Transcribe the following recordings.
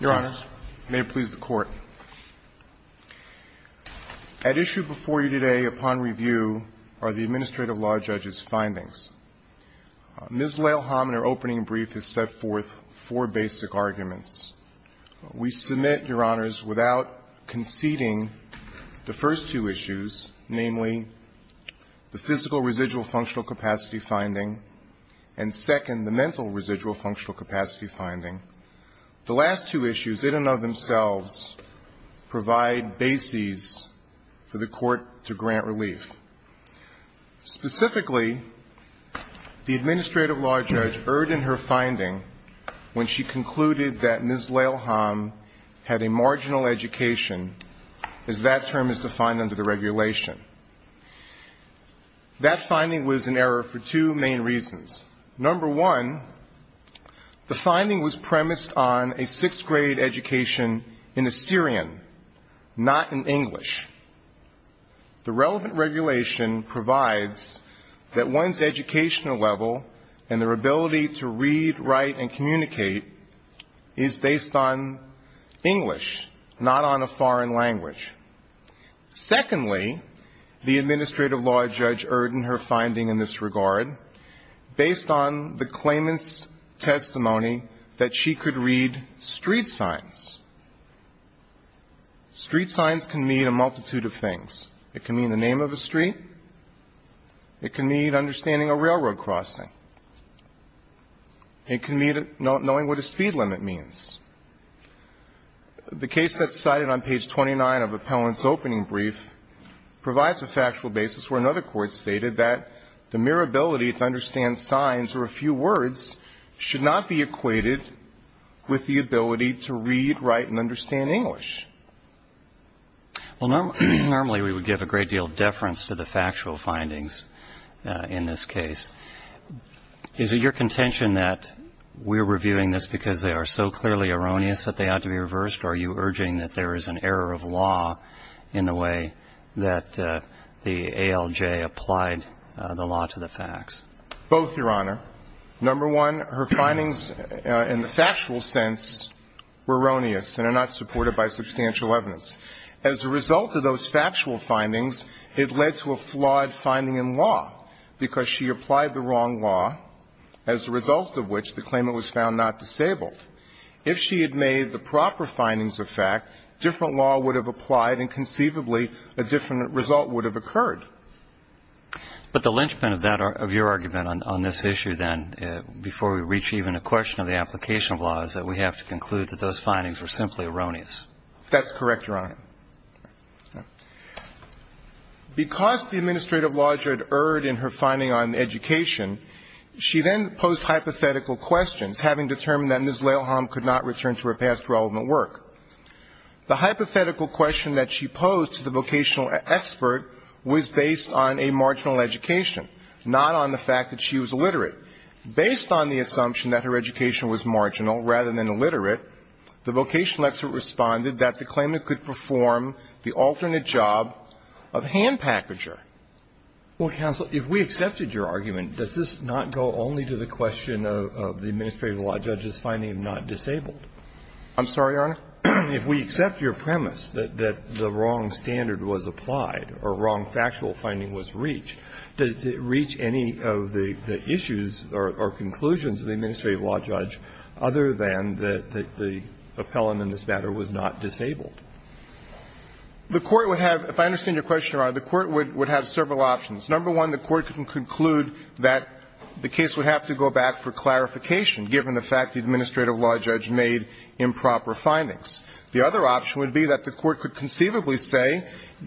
Your Honor, may it please the Court, at issue before you today upon review are the Administrative Law Judges' findings. Ms. Lellhame, in her opening brief, has set forth four basic arguments. We submit, Your Honors, without conceding the first two issues, namely the physical residual functional capacity finding. The last two issues in and of themselves provide bases for the Court to grant relief. Specifically, the Administrative Law Judge erred in her finding when she concluded that Ms. Lellhame had a marginal education, as that term is defined under the regulation. That finding was in error for two main reasons. Number one, the finding was premised on a sixth-grade education in Assyrian, not in English. The relevant regulation provides that one's educational level and their ability to read, write, and communicate is based on English, not on a foreign language. Secondly, the Administrative Law Judge erred in her finding in this regard based on the claimant's testimony that she could read street signs. Street signs can mean a multitude of things. It can mean the name of a street. It can mean understanding a railroad crossing. It can mean knowing what a speed limit means. The case that's cited on page 29 of Appellant's opening brief provides a factual basis where another court stated that the mere ability to understand signs or a few words should not be equated with the ability to read, write, and understand English. Well, normally we would give a great deal of deference to the factual findings in this case. Is it your contention that we're reviewing this because they are so clearly erroneous that they ought to be reversed, or are you urging that there is an error of law in the way that the ALJ applied the law to the facts? Both, Your Honor. Number one, her findings in the factual sense were erroneous and are not supported by substantial evidence. As a result of those factual findings, it led to a flawed finding in law because she applied the wrong law, as a result of which the claimant was found not disabled. If she had made the proper findings of fact, different law would have applied and conceivably a different result would have occurred. But the linchpin of that, of your argument on this issue then, before we reach even a question of the application of law, is that we have to conclude that those findings were simply erroneous. That's correct, Your Honor. Because the administrative law judge erred in her finding on education, she then posed hypothetical questions, having determined that Ms. Lailholm could not return to her past relevant work. The hypothetical question that she posed to the vocational expert was based on a marginal education, not on the fact that she was illiterate. Based on the assumption that her education was marginal rather than illiterate, the vocational expert responded that the claimant could perform the alternate job of hand packager. Well, counsel, if we accepted your argument, does this not go only to the question of the administrative law judge's finding of not disabled? I'm sorry, Your Honor? If we accept your premise that the wrong standard was applied or wrong factual finding was reached, does it reach any of the issues or conclusions of the administrative law judge other than that the appellant in this matter was not disabled? The Court would have – if I understand your question, Your Honor, the Court would have several options. Number one, the Court can conclude that the case would have to go back for clarification, given the fact the administrative law judge made improper findings. The other option would be that the Court could conceivably say,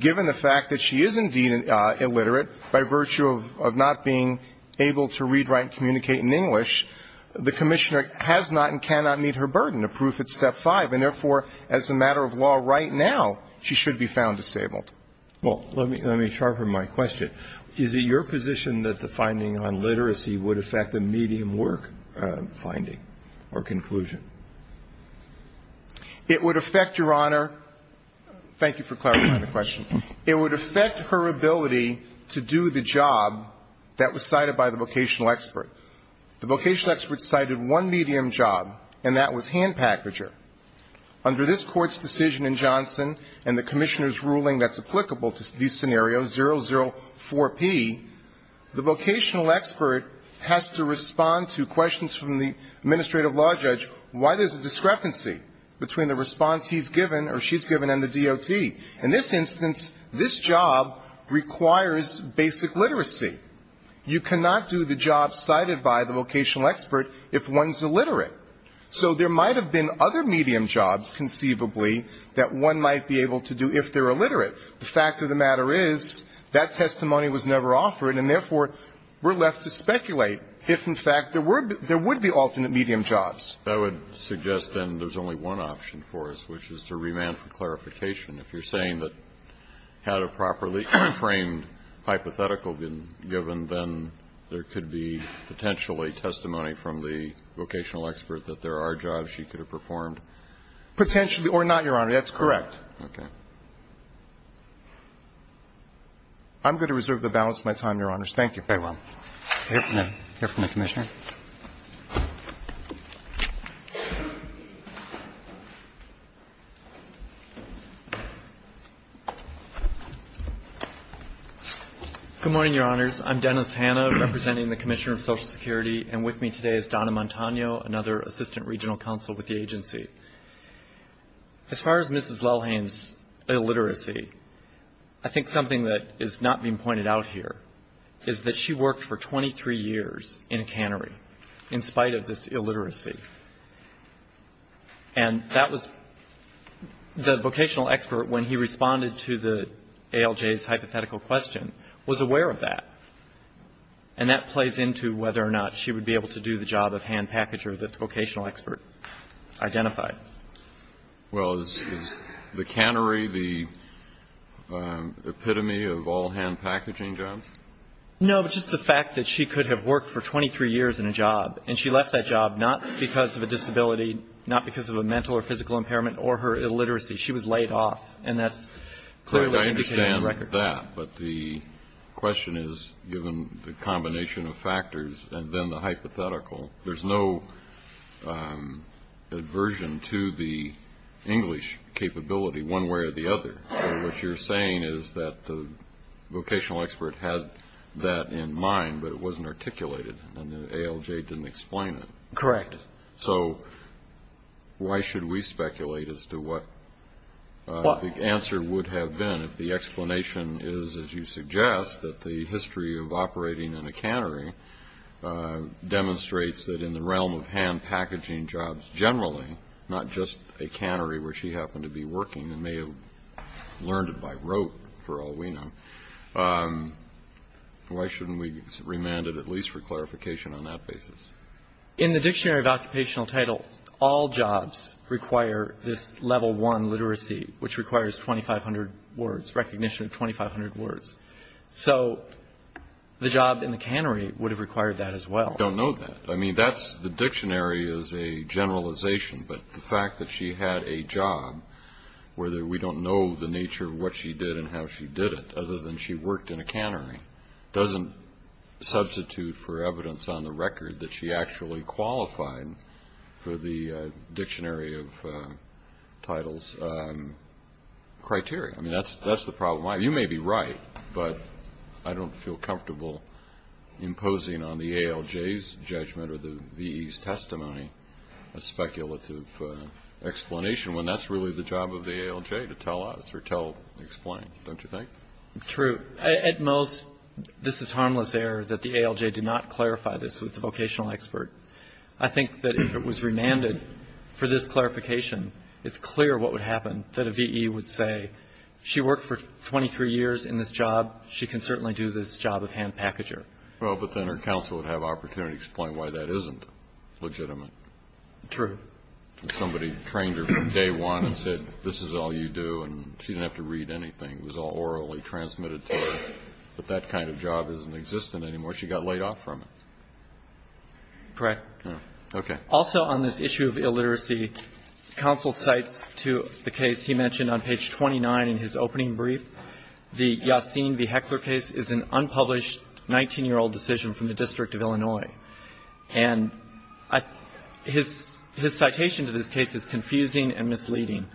given the fact that she is indeed illiterate by virtue of not being able to read, write and communicate in English, the commissioner has not and cannot meet her burden, a proof at step 5, and therefore, as a matter of law right now, she should be found disabled. Well, let me – let me sharpen my question. Is it your position that the finding on literacy would affect the medium work finding or conclusion? It would affect, Your Honor – thank you for clarifying the question. It would affect her ability to do the job that was cited by the vocational expert. The vocational expert cited one medium job, and that was hand packager. Under this Court's decision in Johnson and the commissioner's ruling that's applicable to these scenarios, 004P, the vocational expert has to respond to questions from the administrative law judge why there's a discrepancy between the response he's given or she's given and the DOT. In this instance, this job requires basic literacy. You cannot do the job cited by the vocational expert if one's illiterate. So there might have been other medium jobs conceivably that one might be able to do if they're illiterate. The fact of the matter is that testimony was never offered, and therefore, we're left to speculate if, in fact, there were – there would be alternate medium jobs. I would suggest then there's only one option for us, which is to remand for clarification. If you're saying that had a properly framed hypothetical been given, then there could be potentially testimony from the vocational expert that there are jobs she could have performed. Potentially or not, Your Honor. That's correct. Okay. I'm going to reserve the balance of my time, Your Honors. Thank you. Very well. I hear from the Commissioner. Good morning, Your Honors. I'm Dennis Hanna, representing the Commissioner of Social Security, and with me today is Donna Montano, another Assistant Regional Counsel with the agency. As far as Mrs. Lelheim's illiteracy, I think something that is not being pointed out here is that she worked for 23 years in a cannery in spite of this illiteracy. And that was – the vocational expert, when he responded to the ALJ's hypothetical question, was aware of that, and that plays into whether or not she would be able to do the job of hand packager that the vocational expert identified. Well, is the cannery the epitome of all hand packaging jobs? No, but just the fact that she could have worked for 23 years in a job, and she left that job not because of a disability, not because of a mental or physical impairment or her illiteracy. She was laid off, and that's clearly what indicated in the record. I understand that. But the question is, given the combination of factors and then the hypothetical, there's no aversion to the English capability one way or the other. What you're saying is that the vocational expert had that in mind, but it wasn't articulated, and the ALJ didn't explain it. Correct. So why should we speculate as to what the answer would have been if the in the realm of hand packaging jobs generally, not just a cannery where she happened to be working and may have learned it by rote for all we know, why shouldn't we remand it at least for clarification on that basis? In the Dictionary of Occupational Title, all jobs require this level one literacy, which requires 2,500 words, recognition of 2,500 words. So the job in the cannery would have required that as well. I don't know that. I mean, the dictionary is a generalization, but the fact that she had a job where we don't know the nature of what she did and how she did it other than she worked in a cannery doesn't substitute for evidence on the record that she actually qualified for the Dictionary of Titles criteria. I mean, that's the problem. You may be right, but I don't feel comfortable imposing on the ALJ's judgment or the VE's testimony a speculative explanation when that's really the job of the ALJ to tell us or explain, don't you think? True. At most, this is harmless error that the ALJ did not clarify this with the vocational expert. I think that if it was remanded for this clarification, it's clear what would happen, that a VE would say she worked for 23 years in this job. She can certainly do this job of hand packager. Well, but then her counsel would have opportunity to explain why that isn't legitimate. True. Somebody trained her from day one and said, this is all you do, and she didn't have to read anything. It was all orally transmitted to her. But that kind of job isn't existent anymore. She got laid off from it. Correct. Okay. Also on this issue of illiteracy, counsel cites to the case he mentioned on page 29 in his opening brief, the Yassin v. Heckler case is an unpublished 19-year-old decision from the District of Illinois. And his citation to this case is confusing and misleading.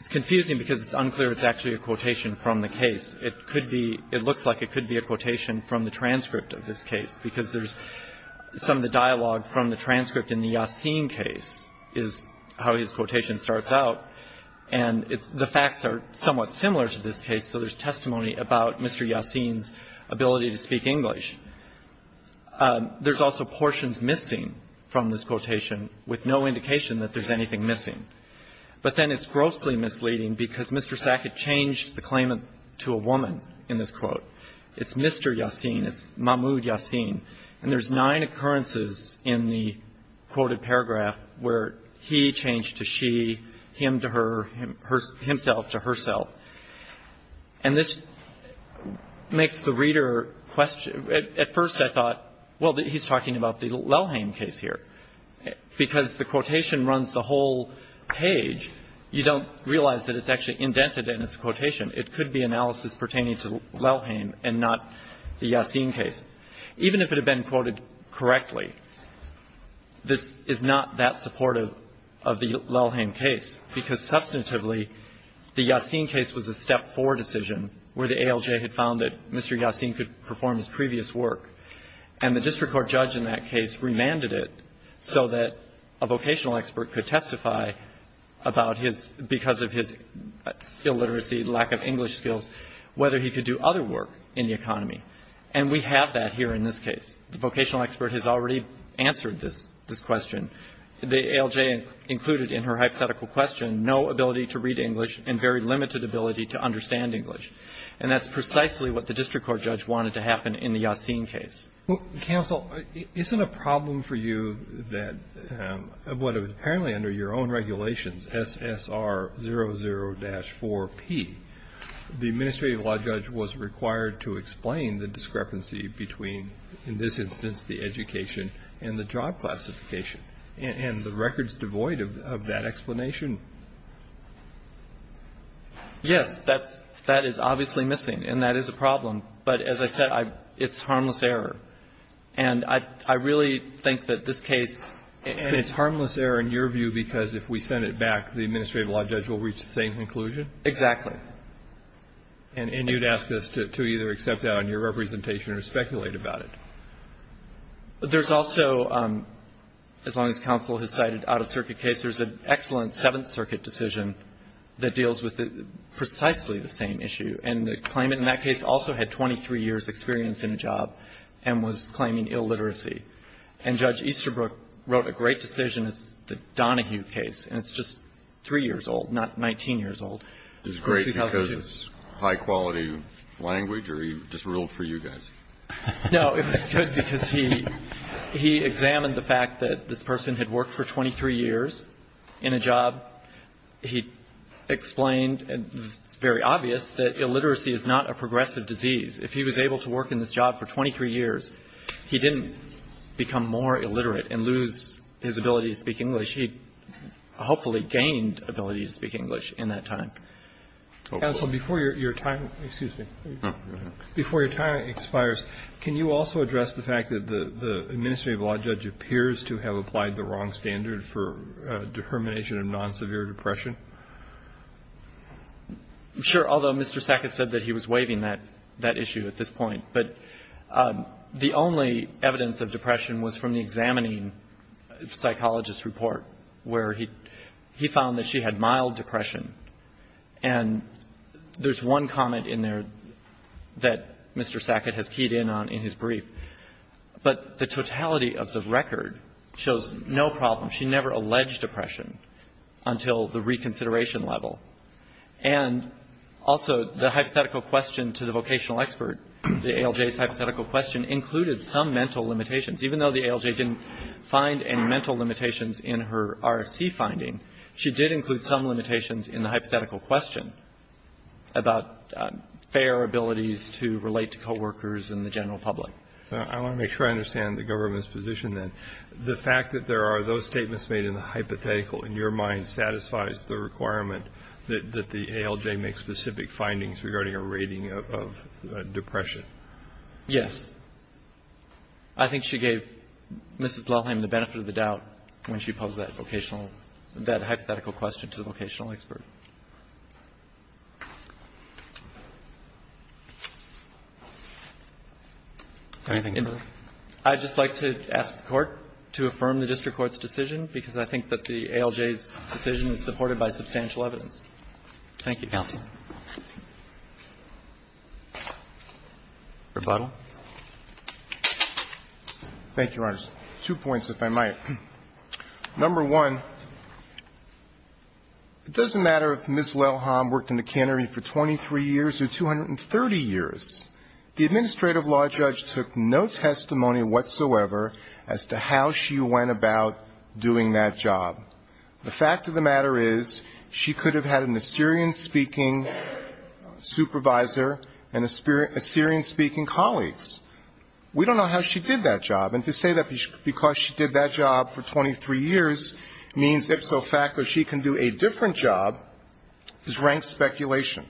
It's confusing because it's unclear it's actually a quotation from the case. It could be – it looks like it could be a quotation from the transcript of this Yassin case is how his quotation starts out. And it's – the facts are somewhat similar to this case, so there's testimony about Mr. Yassin's ability to speak English. There's also portions missing from this quotation with no indication that there's anything missing. But then it's grossly misleading because Mr. Sackett changed the claimant to a woman in this quote. It's Mr. Yassin. It's Mahmoud Yassin. And there's nine occurrences in the quoted paragraph where he changed to she, him to her, himself to herself. And this makes the reader question – at first I thought, well, he's talking about the Lelhaim case here. Because the quotation runs the whole page, you don't realize that it's actually indented in its quotation. It could be analysis pertaining to Lelhaim and not the Yassin case. Even if it had been quoted correctly, this is not that supportive of the Lelhaim case because, substantively, the Yassin case was a step forward decision where the ALJ had found that Mr. Yassin could perform his previous work. And the district court judge in that case remanded it so that a vocational expert could testify about his – because of his illiteracy, lack of English And we have that here in this case. The vocational expert has already answered this question. The ALJ included in her hypothetical question no ability to read English and very limited ability to understand English. And that's precisely what the district court judge wanted to happen in the Yassin case. Well, counsel, isn't a problem for you that what was apparently under your own regulations, SSR 00-4P, the administrative law judge was required to explain that discrepancy between, in this instance, the education and the job classification and the records devoid of that explanation? Yes. That is obviously missing. And that is a problem. But as I said, it's harmless error. And I really think that this case And it's harmless error in your view because if we send it back, the administrative law judge will reach the same conclusion? Exactly. And you'd ask us to either accept that on your representation or speculate about it. There's also, as long as counsel has cited out-of-circuit cases, an excellent Seventh Circuit decision that deals with precisely the same issue. And the claimant in that case also had 23 years' experience in a job and was claiming illiteracy. And Judge Easterbrook wrote a great decision. It's the Donahue case. And it's just three years old, not 19 years old. Is it great because it's high-quality language or he just ruled for you guys? No. It was good because he examined the fact that this person had worked for 23 years in a job. He explained, and it's very obvious, that illiteracy is not a progressive disease. If he was able to work in this job for 23 years, he didn't become more illiterate and lose his ability to speak English. He hopefully gained ability to speak English in that time. Counsel, before your time expires, can you also address the fact that the administrative law judge appears to have applied the wrong standard for determination of non-severe depression? Sure. Although Mr. Sackett said that he was waiving that issue at this point. But the only evidence of depression was from the examining psychologist's report, where he found that she had mild depression. And there's one comment in there that Mr. Sackett has keyed in on in his brief. But the totality of the record shows no problem. She never alleged depression until the reconsideration level. And also, the hypothetical question to the vocational expert, the ALJ's hypothetical question, included some mental limitations, even though the ALJ didn't find any mental limitations in her RFC finding, she did include some limitations in the hypothetical question about fair abilities to relate to co-workers and the general public. I want to make sure I understand the government's position, then. The fact that there are those statements made in the hypothetical, in your mind, satisfies the requirement that the ALJ make specific findings regarding a rating of depression? Yes. I think she gave Mrs. Lelheim the benefit of the doubt when she posed that vocational – that hypothetical question to the vocational expert. Anything to add? I'd just like to ask the Court to affirm the district court's decision, because I think that the ALJ's decision is supported by substantial evidence. Thank you. Counsel. Rebuttal. Thank you, Your Honor. Two points, if I might. Number one, it doesn't matter if Ms. Lelheim worked in the cannery for 23 years or 230 years. The administrative law judge took no testimony whatsoever as to how she went about doing that job. The fact of the matter is, she could have had an Assyrian-speaking, supervisor and Assyrian-speaking colleagues. We don't know how she did that job. And to say that because she did that job for 23 years means, if so, the fact that she can do a different job is rank speculation.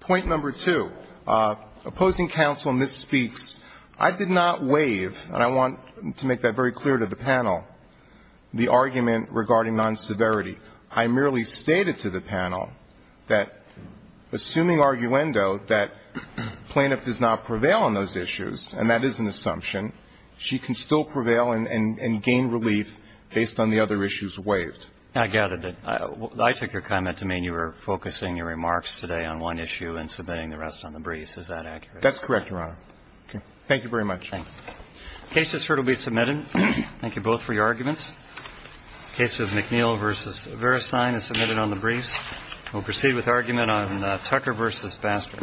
Point number two, opposing counsel, and this speaks – I did not waive, and I want to make that very clear to the panel, the argument regarding non-severity. I merely stated to the panel that, assuming arguendo, that plaintiff does not prevail on those issues, and that is an assumption, she can still prevail and gain relief based on the other issues waived. I gathered that. I took your comment to mean you were focusing your remarks today on one issue and submitting the rest on the briefs. Is that accurate? That's correct, Your Honor. Okay. Thank you very much. Thank you. The case just heard will be submitted. Thank you both for your arguments. The case of McNeil v. Verisign is submitted on the briefs. We'll proceed with argument on Tucker v. Baxter. Thank you.